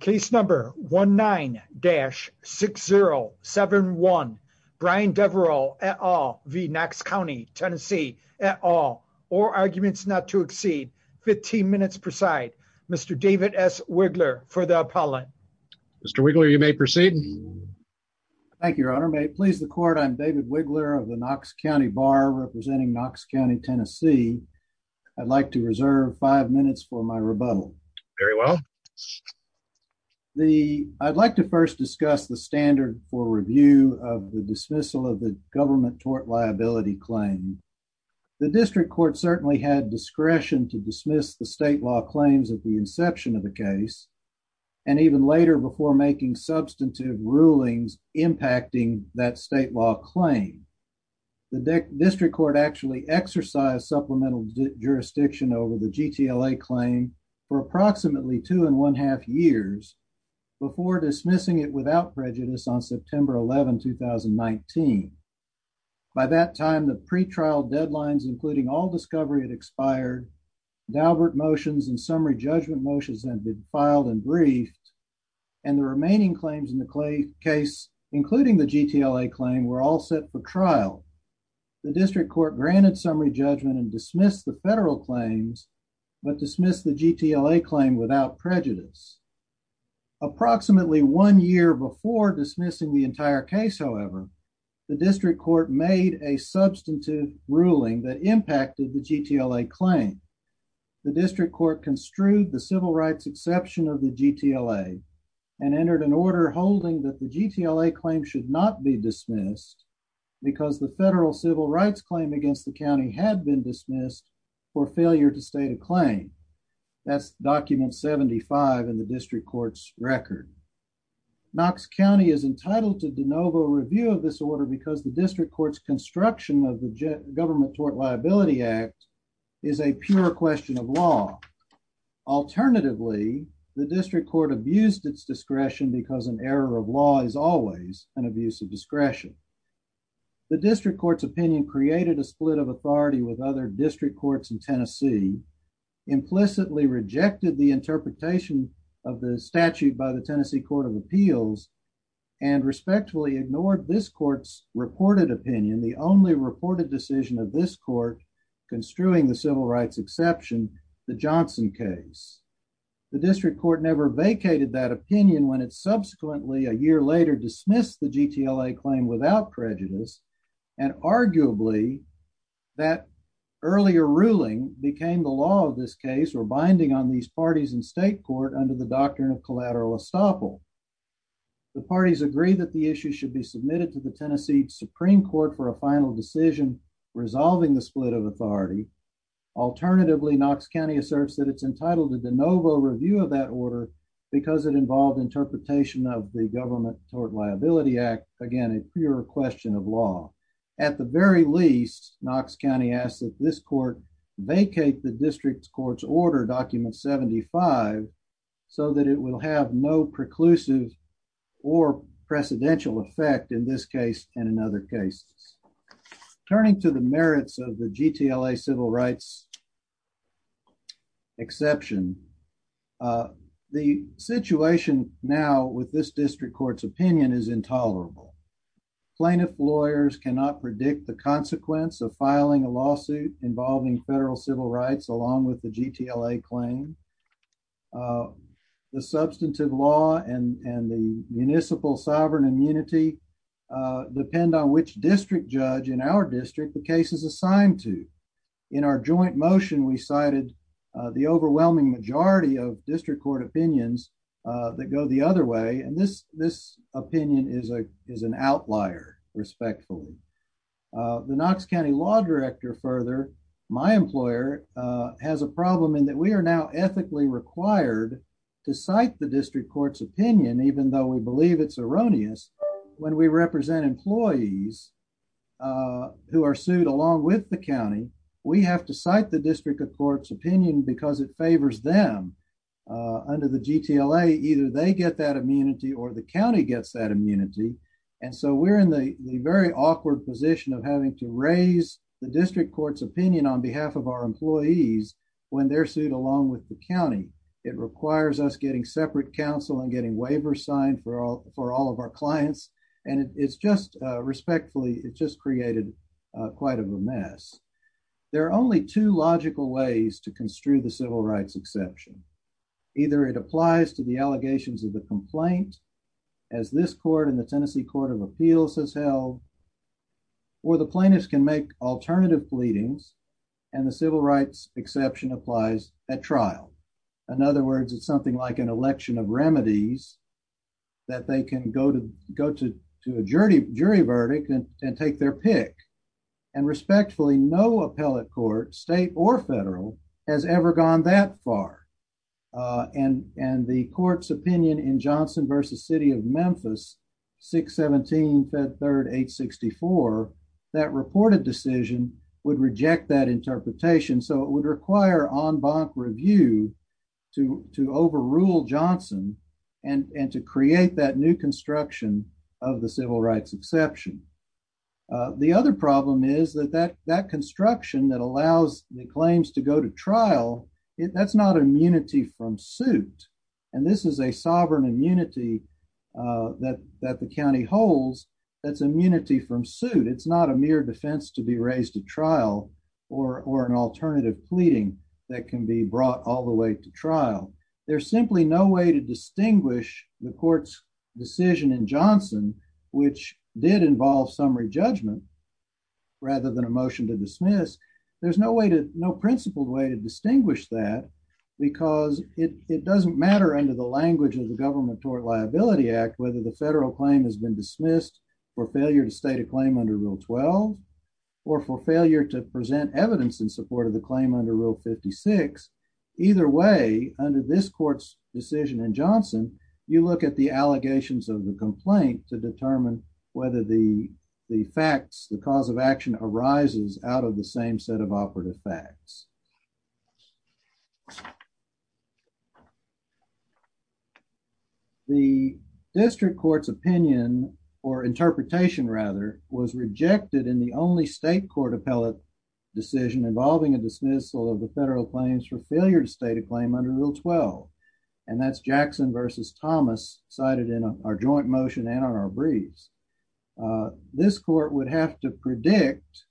Case number 19-6071. Brian Devereux et al v. Knox County, TN et al. All arguments not to exceed 15 minutes per side. Mr. David S. Wigler for the appellant. Mr. Wigler, you may proceed. Thank you, your honor. May it please the court, I'm David Wigler of the Knox County Bar representing Knox County, Tennessee. I'd like to reserve five minutes for my rebuttal. Very well. I'd like to first discuss the standard for review of the dismissal of the government tort liability claim. The district court certainly had discretion to dismiss the state law claims at the inception of the case and even later before making substantive rulings impacting that state law claim. The district court actually exercised supplemental jurisdiction over the GTLA claim for approximately two and one half years before dismissing it without prejudice on September 11, 2019. By that time, the pretrial deadlines including all discovery had expired. Daubert motions and summary judgment motions had been filed and briefed and the remaining claims in the case, including the GTLA claim, were all set for trial. The district court granted summary judgment and dismissed the federal claims, but dismissed the GTLA claim without prejudice. Approximately one year before dismissing the entire case, however, the district court made a substantive ruling that impacted the GTLA claim. The district court construed the civil rights exception of the GTLA and entered an order holding that the GTLA claim should not be dismissed because the federal civil rights claim against the county had been dismissed for failure to state a claim. That's document 75 in the district court's record. Knox County is entitled to de novo review of this order because the district court's construction of the government tort liability act is a pure question of law. Alternatively, the district court abused its discretion because an error of law is always an abuse of discretion. The district court's opinion created a split of authority with other district courts in Tennessee, implicitly rejected the interpretation of the statute by the Tennessee Court of Appeals and respectfully ignored this court's reported opinion. The only reported decision of this court construing the civil rights exception, the Johnson case. The district court never vacated that opinion when it subsequently a year later dismissed the GTLA claim without prejudice and arguably that earlier ruling became the law of this case or binding on these parties in state court under the doctrine of collateral estoppel. The parties agree that the issue should be submitted to the Tennessee Supreme Court for a final decision resolving the split of authority. Alternatively, Knox County asserts that it's entitled to de novo review of that order because it involved interpretation of the government tort liability act. Again, a pure question of law. At the very least, Knox County asked that this court vacate the district court's order document 75 so that it will have no cases. Turning to the merits of the GTLA civil rights exception, the situation now with this district court's opinion is intolerable. Plaintiff lawyers cannot predict the consequence of filing a lawsuit involving federal civil rights along with the GTLA claim. The substantive law and the municipal sovereign immunity depend on which district judge in our district the case is assigned to. In our joint motion, we cited the overwhelming majority of district court opinions that go the other way, and this opinion is an outlier respectfully. The Knox County law director further my employer has a problem in that we are now ethically required to cite the district court's opinion, even though we believe it's erroneous when we represent employees who are sued along with the county. We have to cite the district of court's opinion because it favors them under the GTLA. Either they get that immunity or the very awkward position of having to raise the district court's opinion on behalf of our employees when they're sued along with the county. It requires us getting separate counsel and getting waiver signed for all for all of our clients, and it's just respectfully, it just created quite a mess. There are only two logical ways to construe the civil rights exception. Either it applies to the allegations of the complaint, as this court in the Tennessee Court of Appeals has held, or the plaintiffs can make alternative pleadings and the civil rights exception applies at trial. In other words, it's something like an election of remedies that they can go to a jury verdict and take their pick, and respectfully, no appellate court, state or federal, has ever gone that far, and the court's opinion in Johnson v. City of Memphis 617 Fed Third 864, that reported decision would reject that interpretation, so it would require en banc review to overrule Johnson and to create that new construction of the civil rights exception. The other problem is that that construction that allows the claims to go to trial, that's not immunity from suit, and this is a sovereign immunity that the county holds. That's immunity from suit. It's not a mere defense to be raised at trial or an alternative pleading that can be brought all the way to trial. There's simply no way to distinguish the court's decision in Johnson, which did involve summary judgment rather than a motion to dismiss. There's no way no principled way to distinguish that because it doesn't matter under the language of the Government Tort Liability Act whether the federal claim has been dismissed for failure to state a claim under Rule 12 or for failure to present evidence in support of the claim under Rule 56. Either way, under this court's decision in Johnson, you look at the allegations of the complaint to the District Court's opinion or interpretation rather was rejected in the only state court appellate decision involving a dismissal of the federal claims for failure to state a claim under Rule 12, and that's Jackson versus Thomas cited in our joint motion and on our briefs. This court would have to predict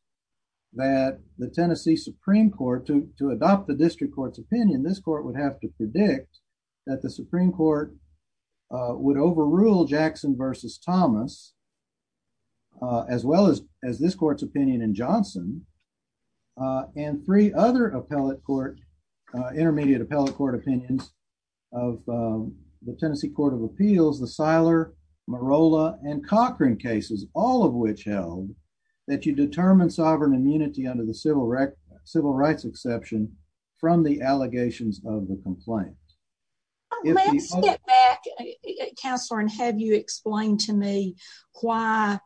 that the Tennessee Supreme Court, to adopt the District Court's opinion, this court would have to predict that the Supreme Court would overrule Jackson versus Thomas as well as this court's opinion in Johnson and three other appellate court, intermediate appellate court opinions of the Tennessee Court of Appeals, the Siler, Morolla, and Cochran cases, all of which held that you determine sovereign immunity under the civil rights exception from the allegations of the complaint. Let's get back, Counselor, and have you explained to me why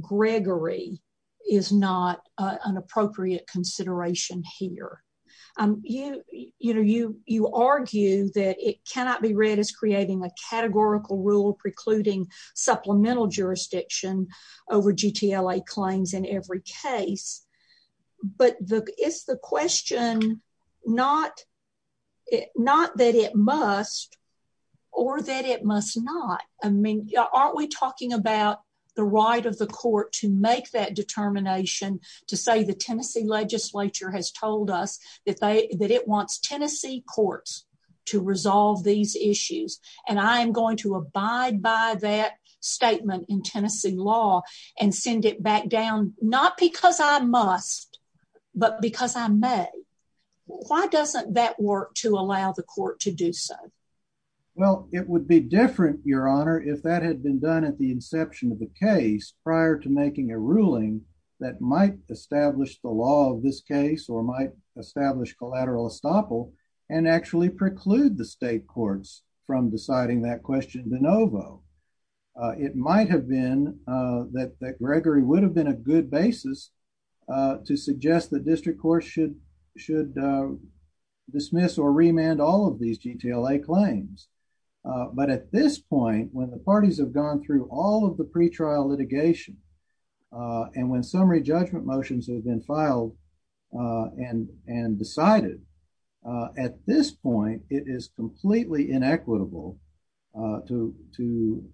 Gregory is not an appropriate consideration here? You argue that it cannot be read as creating a categorical rule precluding supplemental jurisdiction over GTLA claims in every case, but it's the question not that it must or that it must not. I mean, aren't we talking about the right of the court to make that decision? The Supreme Court has told us that it wants Tennessee courts to resolve these issues, and I am going to abide by that statement in Tennessee law and send it back down, not because I must, but because I may. Why doesn't that work to allow the court to do so? Well, it would be different, Your Honor, if that had been done at the inception of the case prior to making a ruling that might establish the law of this case or might establish collateral estoppel and actually preclude the state courts from deciding that question de novo. It might have been that Gregory would have been a good basis to suggest the district court should dismiss or remand all of these GTLA claims. But at this point, when the and when summary judgment motions have been filed and decided, at this point, it is completely inequitable to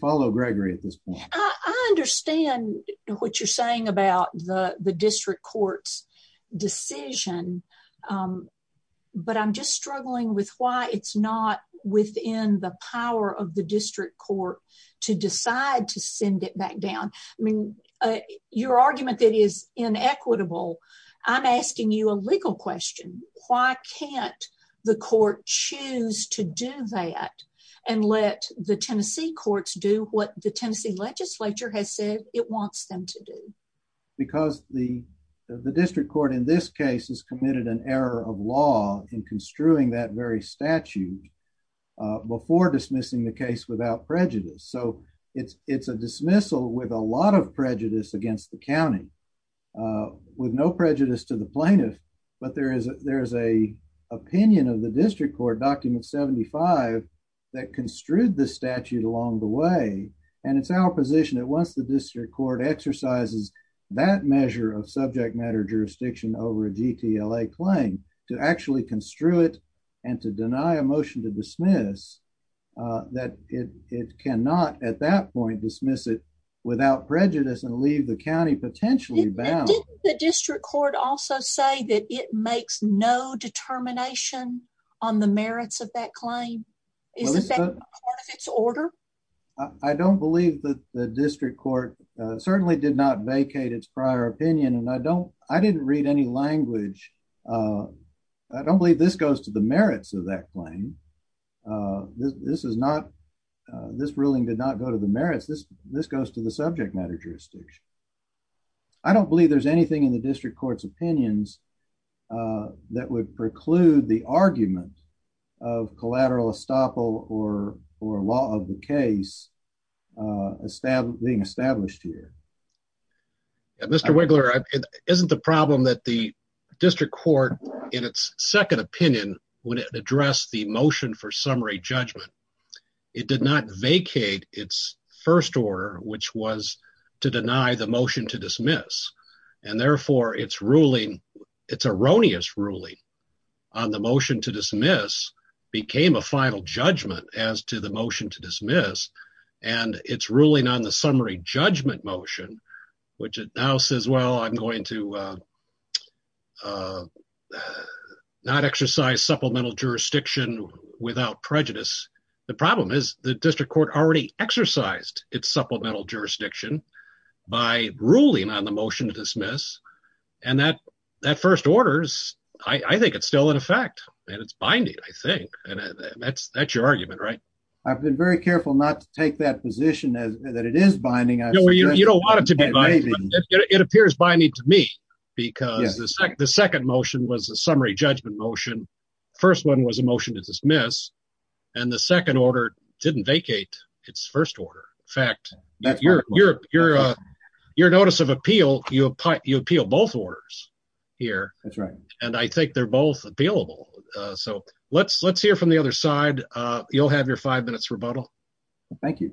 follow Gregory at this point. I understand what you're saying about the district court's decision, but I'm just struggling with why it's not within the power of district court to decide to send it back down. I mean, your argument that is inequitable, I'm asking you a legal question. Why can't the court choose to do that and let the Tennessee courts do what the Tennessee legislature has said it wants them to do? Because the district court in this case has committed an error of law in construing that very statute before dismissing the case without prejudice. So it's a dismissal with a lot of prejudice against the county with no prejudice to the plaintiff. But there is a opinion of the district court, document 75, that construed the statute along the way. And it's our position that once the district court exercises that measure of subject matter jurisdiction over a GTLA claim to actually construe it and to deny a motion to dismiss, that it cannot at that point dismiss it without prejudice and leave the county potentially bound. Didn't the district court also say that it makes no determination on the merits of that claim? I don't believe that the district court certainly did not vacate its prior opinion, and I didn't read any language. I don't believe this goes to the merits of that claim. This ruling did not go to the merits. This goes to the subject matter jurisdiction. I don't believe there's anything in the district court's opinions that would preclude the argument of collateral estoppel or law of the case being established here. Mr. Wiggler, isn't the problem that the district court, in its second opinion, would address the motion for summary judgment? It did not vacate its first order, which was to deny the motion to dismiss. And therefore, its ruling, its erroneous ruling on the motion to dismiss became a final judgment as to the motion to dismiss and its ruling on the summary judgment motion, which it now says, well, I'm going to not exercise supplemental jurisdiction without prejudice. The problem is the district court already exercised its supplemental jurisdiction by ruling on the motion to dismiss. And that first order, I think it's still in effect and it's binding, I think. And that's your argument, right? I've been very careful not to take that position that it is binding. No, you don't want it to be binding. It appears binding to me because the second motion was a summary judgment motion. First one was a motion to dismiss and the second order didn't vacate its first order. In fact, your notice of appeal, you appeal both orders here. That's right. And I think they're both appealable. So let's hear from the other side. You'll have your five minutes rebuttal. Thank you.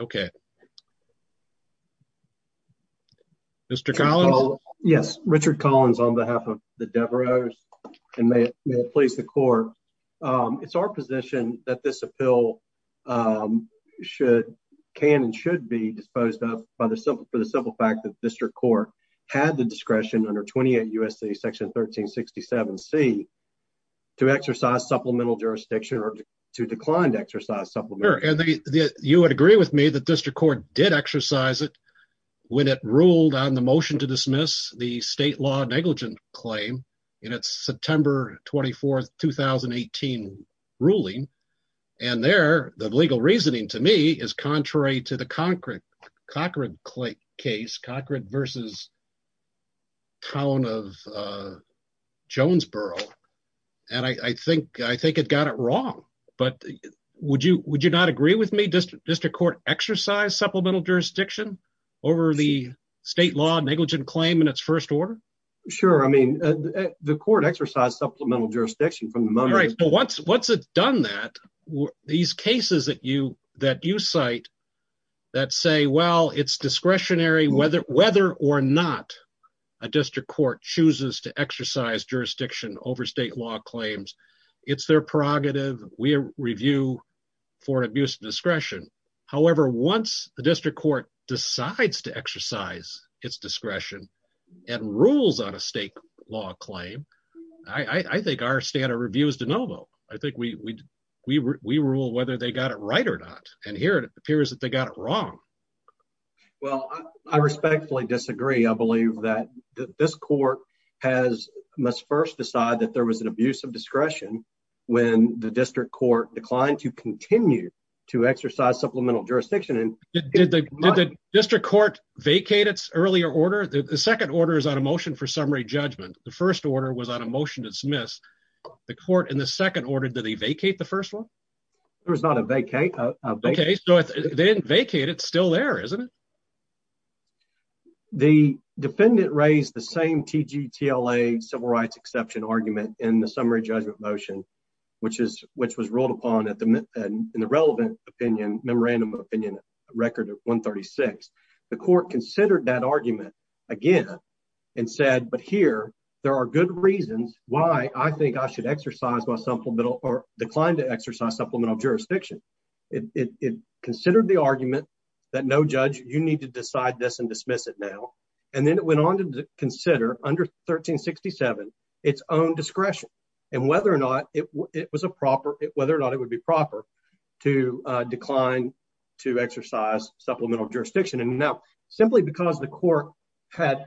Okay. Mr. Collins? Yes. Richard Collins on behalf of the Devereux and may it please the court. It's our position that this appeal can and should be disposed of for the simple fact that district court had the discretion under 28 U.S.A. section 1367C to exercise supplemental jurisdiction or to decline to exercise supplemental jurisdiction. You would agree with me that district court did exercise it when it ruled on the motion to dismiss the state law negligent claim in its September 24th, 2018 ruling. And there, the legal reasoning to me is contrary to the Cochran case, Cochran versus town of Jonesboro. And I think it got it wrong. But would you not agree with me, district court exercised supplemental jurisdiction over the state law negligent claim in its first order? Sure. I mean, the court exercised supplemental jurisdiction from the moment. Once it's done that, these cases that you cite that say, well, it's discretionary whether or not a district court chooses to exercise jurisdiction over state law claims, it's their prerogative. We review for abuse of discretion. However, once the district court decides to exercise its discretion and rules on a state law claim, I think our standard review is de novo. I think we rule whether they got it right or not. And here it appears that they got it wrong. Well, I respectfully disagree. I believe that this court must first decide that there was an abuse of discretion when the district court declined to continue to exercise supplemental jurisdiction. And did the district court vacate its earlier order? The second order is on a motion for summary judgment. The first order was on a motion to dismiss the court in the second order. Did they vacate the first one? There was not a vacate. Okay. So then vacate. It's still there, isn't it? The defendant raised the same TGTLA civil rights exception argument in the summary and in the relevant opinion, memorandum of opinion record of 136. The court considered that argument again and said, but here there are good reasons why I think I should exercise my supplemental or decline to exercise supplemental jurisdiction. It considered the argument that no judge, you need to decide this and dismiss it now. And then it went on to consider under 1367, its own discretion and whether or not it was a proper, whether or not it would be proper to decline to exercise supplemental jurisdiction. And now simply because the court had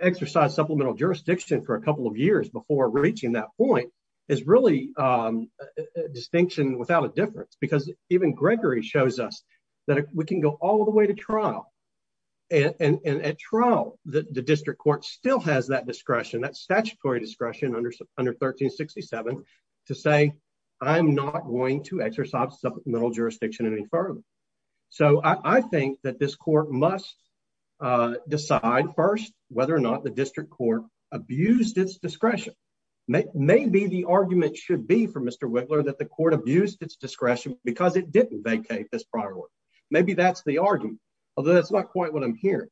exercised supplemental jurisdiction for a couple of years before reaching that point is really a distinction without a difference, because even Gregory shows us that we can go all the way to trial. And at trial, the district court still has that discretion, that statutory discretion under 1367 to say, I'm not going to exercise supplemental jurisdiction any further. So I think that this court must decide first whether or not the district court abused its discretion. Maybe the argument should be for Mr. Wiggler that the court abused its discretion because it didn't vacate this prior one. Maybe that's the argument, although that's not quite what I'm hearing.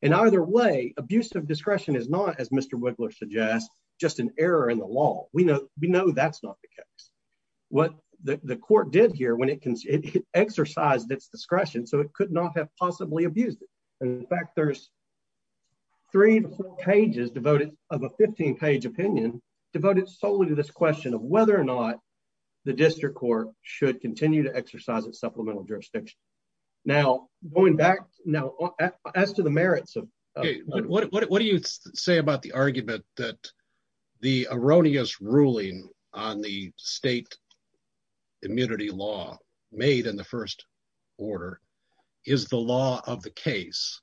And either way, abusive discretion is not as Mr. Wiggler suggests, just an error in the law. We know that's not the case. What the court did here when it exercised its discretion, so it could not have possibly abused it. And in fact, there's three pages devoted of a 15 page opinion devoted solely to this question of whether or not the district court should continue to exercise its supplemental jurisdiction. Now, going back now as to the merits of what do you say about the argument that the erroneous ruling on the state immunity law made in the first order is the law of the case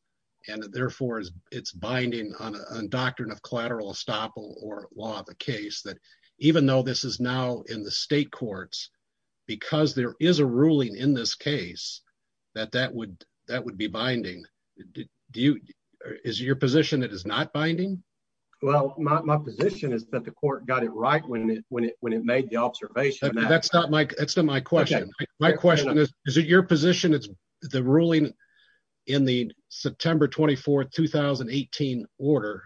and therefore it's binding on a doctrine of collateral estoppel or law of the case that even though this is now in the state courts, because there is a ruling in this case that that would be binding. Is it your position it is not binding? Well, my position is that the court got it right when it made the observation. That's not my question. My question is, is it your position it's the ruling in the September 24th, 2018 order.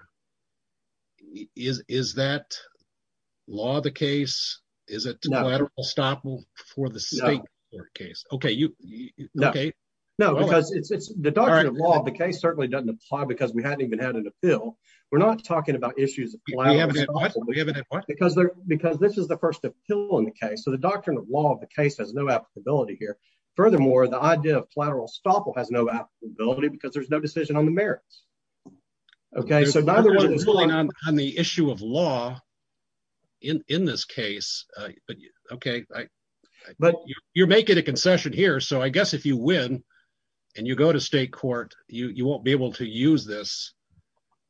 Is that law of the case? Is it collateral estoppel for the state court case? Okay. No, because it's the doctrine of law of the case certainly doesn't apply because we hadn't even had an appeal. We're not talking about issues of collateral estoppel because this is the first appeal in the case. So the doctrine of law of the case has no applicability here. Furthermore, the idea of collateral estoppel has no applicability because there's no decision on the merits. Okay. So neither one is going on the issue of law in this case. Okay. But you're making a concession here. So I guess if you win and you go to state court, you won't be able to use this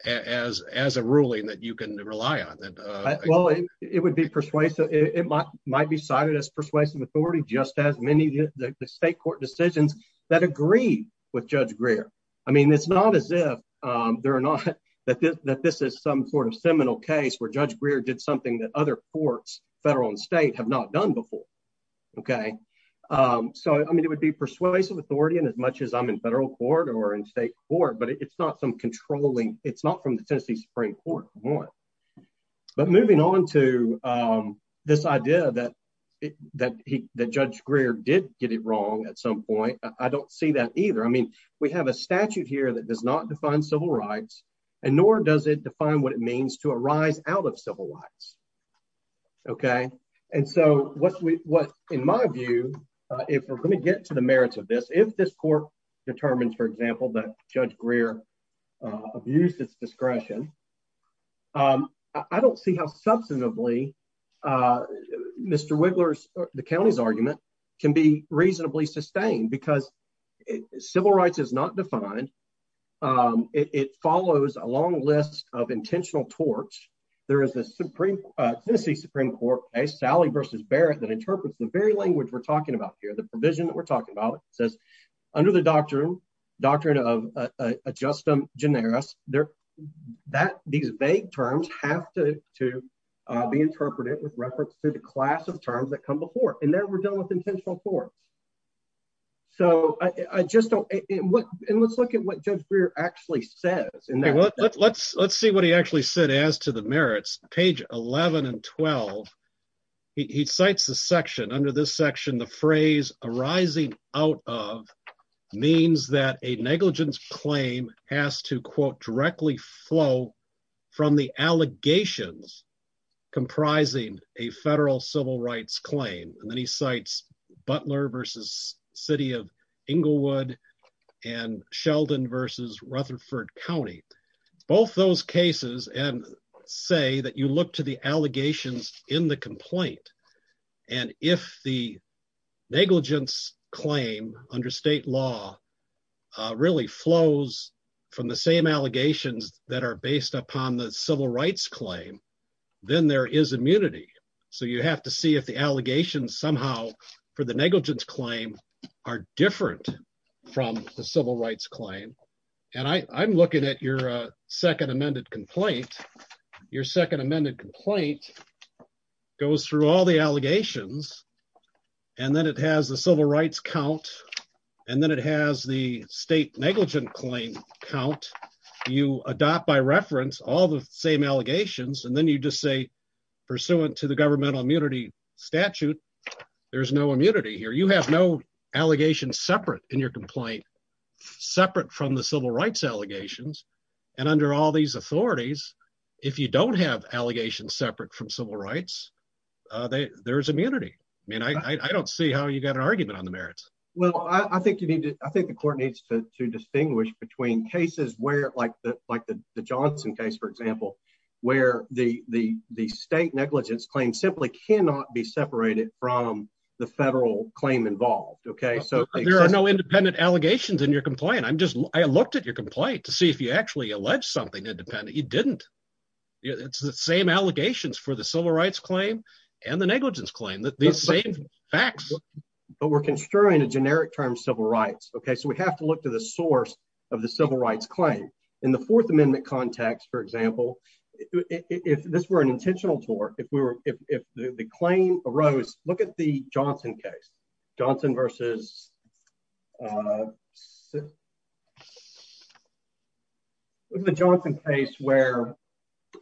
as a ruling that you can rely on. Well, it would be persuasive. It might be cited as persuasive authority, just as many of the state court decisions that agree with judge Greer. I mean, it's not as if there are not that this is some sort of seminal case where judge Greer did something that other courts federal and state have not done before. Okay. So, I mean, it would be persuasive authority and as much as I'm in federal court or in state court, but it's not some controlling, it's not from the Tennessee Supreme Court. But moving on to this idea that, that he, that judge Greer did get it wrong at some point. I don't see that either. I mean, we have a statute here that does not define civil rights and nor does it define what it means to arise out of civil rights. Okay. And so what we, what in my view if we're going to get to the merits of this, if this court determines, for example, that judge Greer abused its discretion, I don't see how substantively Mr. Wiggler's, the county's argument can be reasonably sustained because civil rights is not defined. It follows a long list of intentional torts. There is a Tennessee Supreme Court case, Sally versus Barrett that interprets the very language we're under the doctrine, doctrine of a justum generis there that these vague terms have to, to be interpreted with reference to the class of terms that come before. And there we're dealing with intentional torts. So I just don't, and what, and let's look at what judge Greer actually says. Let's, let's see what he actually said as to the merits page 11 and 12. He cites the section under this section, the phrase arising out of means that a negligence claim has to quote directly flow from the allegations comprising a federal civil rights claim. And then he cites Butler versus city of Inglewood and Sheldon versus Rutherford County, both those cases and say that you look to the allegations in the complaint. And if the negligence claim under state law really flows from the same allegations that are based upon the civil rights claim, then there is immunity. So you have to see if the allegations somehow for the negligence claim are different from the civil rights claim. And I I'm looking at your second amended complaint, your second amended complaint goes through all the allegations and then it has the civil rights count. And then it has the state negligent claim count. You adopt by reference, all the same allegations. And then you just say pursuant to the governmental immunity statute, there's no allegations separate in your complaint, separate from the civil rights allegations. And under all these authorities, if you don't have allegations separate from civil rights, there is immunity. I mean, I don't see how you got an argument on the merits. Well, I think you need to, I think the court needs to distinguish between cases where like the, like the Johnson case, for example, where the, the, the state negligence claim simply cannot be separated from the federal claim involved. Okay. So there are no independent allegations in your complaint. I'm just, I looked at your complaint to see if you actually alleged something independent. You didn't, it's the same allegations for the civil rights claim and the negligence claim that these same facts, but we're construing a generic term civil rights. Okay. So we have to look to the source of the civil rights claim in the fourth amendment context, for example, if this were an intentional tour, if we were, if the claim arose, look at the Johnson case, Johnson versus the Johnson case, where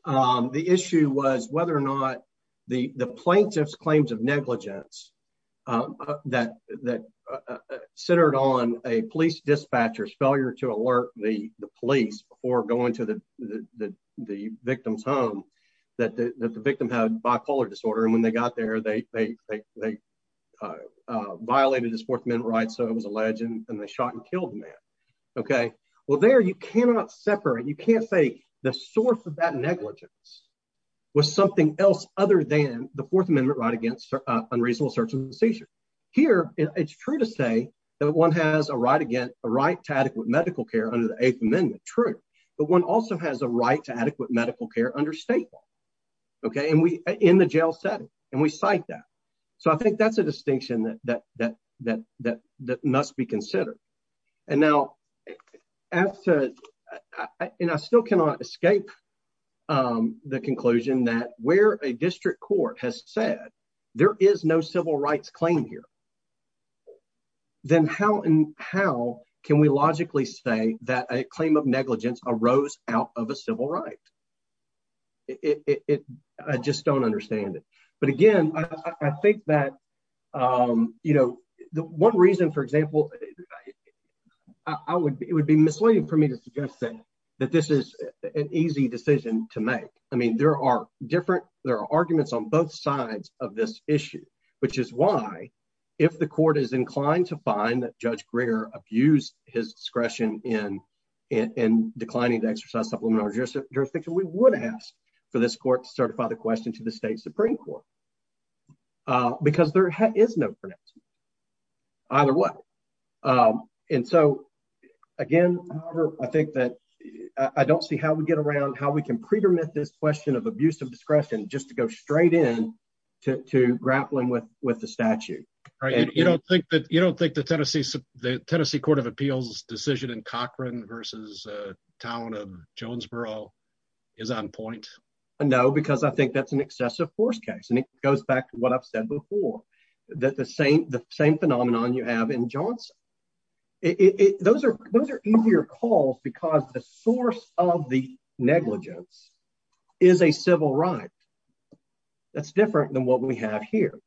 the issue was whether or not the plaintiff's claims of negligence that, that centered on a police dispatcher's failure to alert the police or going to the, the, the, the victim's home that the, that the victim had bipolar disorder. And when they got there, they, they, they, they violated his fourth amendment rights. So it was alleged and they shot and killed the man. Okay. Well there, you cannot separate, you can't say the source of that negligence was something else other than the fourth amendment right against unreasonable search and seizure here. It's true to say that one has a right again, a right to adequate medical care under the eighth amendment. True. But one also has a right to adequate medical care under state law. Okay. And we, in the jail setting and we cite that. So I think that's a distinction that, that, that, that, that must be considered. And now as to, and I still cannot escape the conclusion that where a district court has said, there is no civil rights claim here, then how, how can we logically say that a claim of negligence arose out of a civil right? It, I just don't understand it. But again, I think that, you know, the one reason, for example, I would, it would be misleading for me to suggest that, that this is an easy decision to make. I mean, there are different, there are arguments on both sides of this issue, which is why if the court is inclined to find that judge Gringer abused his discretion in, in declining to exercise supplemental jurisdiction, we would ask for this court to certify the question to the state Supreme court because there is no pronouncement either way. And so again, I think that I don't see how we get around, how we can pre-permit this question of abuse of discretion, just to go straight in to, to grappling with, with the statute. Right. You don't think that you don't think the Tennessee, the Tennessee court of appeals decision in Cochran versus a town of Jonesboro is on point. No, because I think that's an excessive force case. And it goes back to what I've said before, that the same, the same phenomenon you have in Johnson. It, it, those are, those are easier calls because the source of the negligence is a civil right. That's different than what we have here.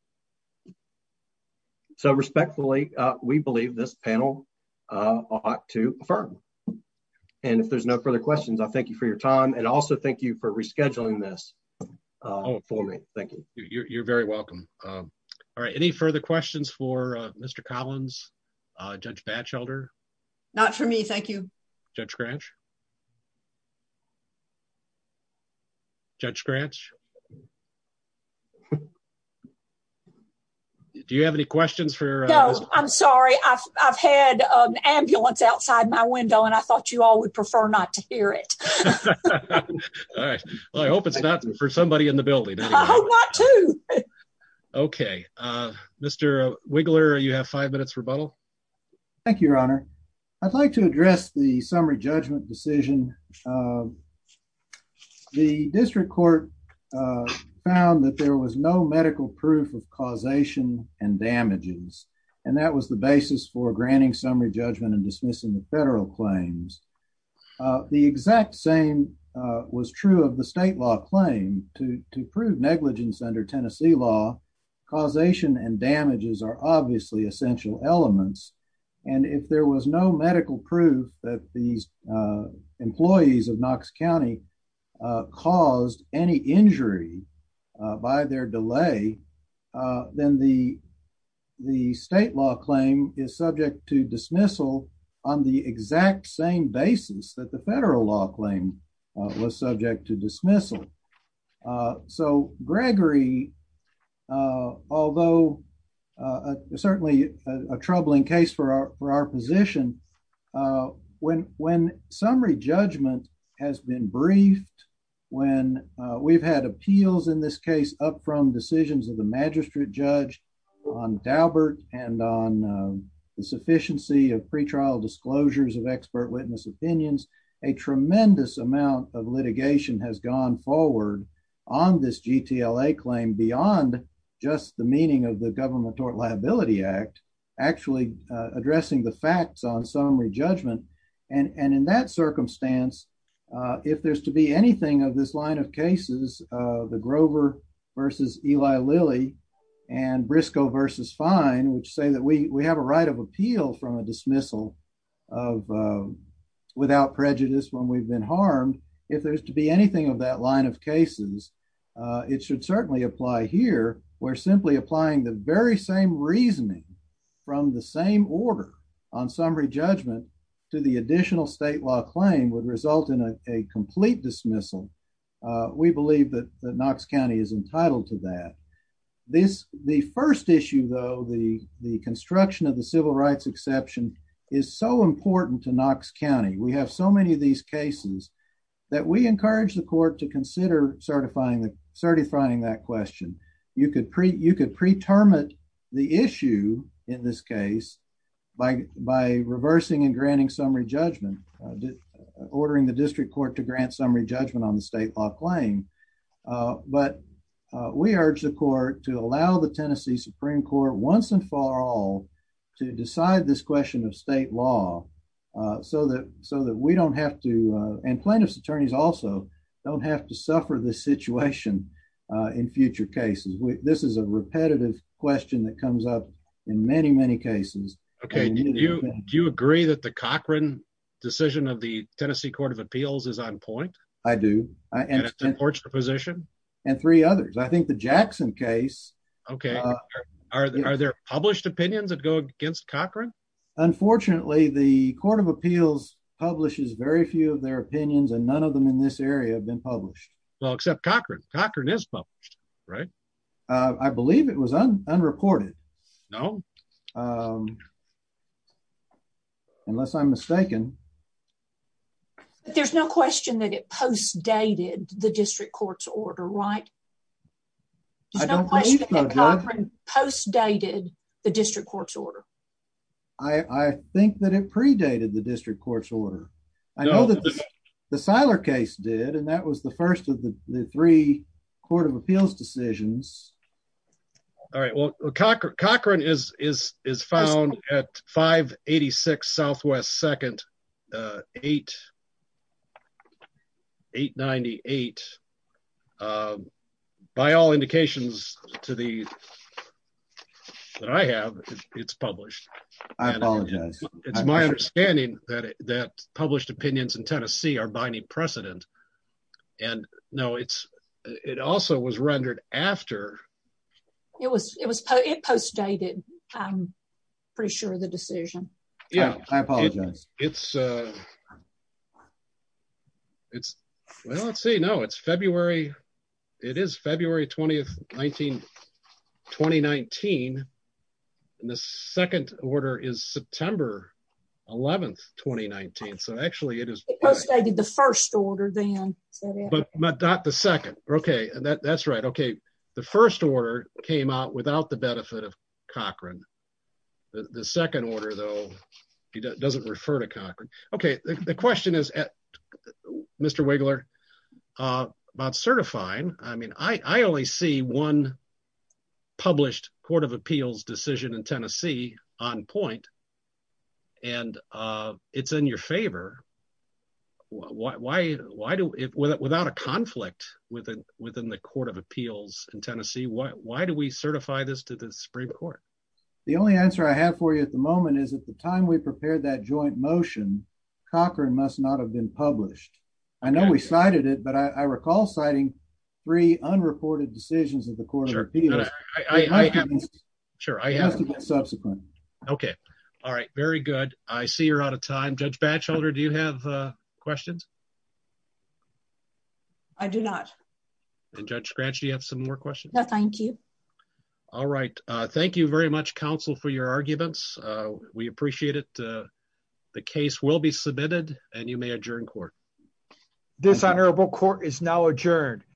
So respectfully, we believe this panel ought to affirm. And if there's no further questions, I thank you for your time. And also thank you for rescheduling this for me. Thank you. You're very welcome. All right. Any further questions for Mr. Collins? Judge Batchelder? Not for me. Thank you. Judge Grange? Judge Grange? Do you have any questions for? No, I'm sorry. I've, I've had an ambulance outside my window and I thought you all would prefer not to hear it. All right. Well, I hope it's not for somebody in the building. I hope not too. Okay. Mr. Wiggler, you have five minutes rebuttal. Thank you, Your Honor. I'd like to address the summary judgment decision. The district court found that there was no medical proof of causation and damages, and that was the basis for granting summary judgment and dismissing the federal claims. The exact same was true of the state law claim to, to prove negligence under Tennessee law, causation and damages are obviously essential elements. And if there was no medical proof that these employees of Knox County caused any injury by their delay, then the, the state law claim is subject to dismissal on the exact same basis that the federal law claim was subject to dismissal. So Gregory, although certainly a troubling case for our, for our position, when, when summary judgment has been briefed, when we've had appeals in this case up from decisions of the magistrate judge on Daubert and on the sufficiency of pretrial disclosures of on this GTLA claim beyond just the meaning of the government tort liability act, actually addressing the facts on summary judgment. And, and in that circumstance, if there's to be anything of this line of cases the Grover versus Eli Lilly and Briscoe versus fine, which say that we, we have a right of appeal from a dismissal of without prejudice when we've been harmed. If there's to be anything of that line of cases, it should certainly apply here. We're simply applying the very same reasoning from the same order on summary judgment to the additional state law claim would result in a complete dismissal. We believe that Knox County is entitled to that. This, the first issue though, the, the construction of the cases that we encourage the court to consider certifying the certifying that question, you could pre, you could preterm it the issue in this case by, by reversing and granting summary judgment, ordering the district court to grant summary judgment on the state law claim. Uh, but, uh, we urge the court to allow the Tennessee Supreme court once and for all to decide this question of state law, uh, so that, so that we don't have to, uh, and plaintiff's attorneys also don't have to suffer the situation, uh, in future cases. We, this is a repetitive question that comes up in many, many cases. Okay. Do you agree that the Cochran decision of the Tennessee court of appeals is on point? I do. I, and, and three others. I think the Jackson case. Okay. Are there published opinions that go against Cochran? Unfortunately, the court of appeals publishes very few of their opinions and none of them in this area have been published. Well, except Cochran Cochran is published, right? Uh, I believe it was unreported. No. Um, unless I'm mistaken, there's no question that it post dated the district court's order, right? I don't post dated the district court's order. I think that it predated the district court's order. I know that the Siler case did, and that was the first of the three court of appeals decisions. All right. Well, Cochran Cochran is, is, is found at five 86 Southwest. Second, uh, eight, eight 98, uh, by all indications to the, that I have it's published. I apologize. It's my understanding that, that published opinions in Tennessee are binding precedent and no, it's, it also was rendered after it was, it was, it post dated. I'm pretty sure of the decision. Yeah, I apologize. It's, uh, it's well, let's say no, it's February. It is February 20th, 19, 2019. And the second order is September 11th, 2019. So actually it is the first order then, but not the second. Okay. That's right. Okay. The first order came out without the benefit of he doesn't refer to Cochran. Okay. The question is Mr. Wiggler, uh, about certifying. I mean, I, I only see one published court of appeals decision in Tennessee on point and, uh, it's in your favor. Why, why, why do it without, without a conflict within, within the court of appeals in Tennessee? Why, why do we certify this to the Supreme court? The only answer I have for you at the time we prepared that joint motion, Cochran must not have been published. I know we cited it, but I recall citing three unreported decisions of the court of appeals. Sure. Okay. All right. Very good. I see you're out of time. Judge Batchelder, do you have a questions? I do not. And judge scratch. Do you have some more questions? No, thank you. All right. Uh, thank you very much counsel for your arguments. Uh, we appreciate it. Uh, the case will be submitted and you may adjourn court. This honorable court is now adjourned.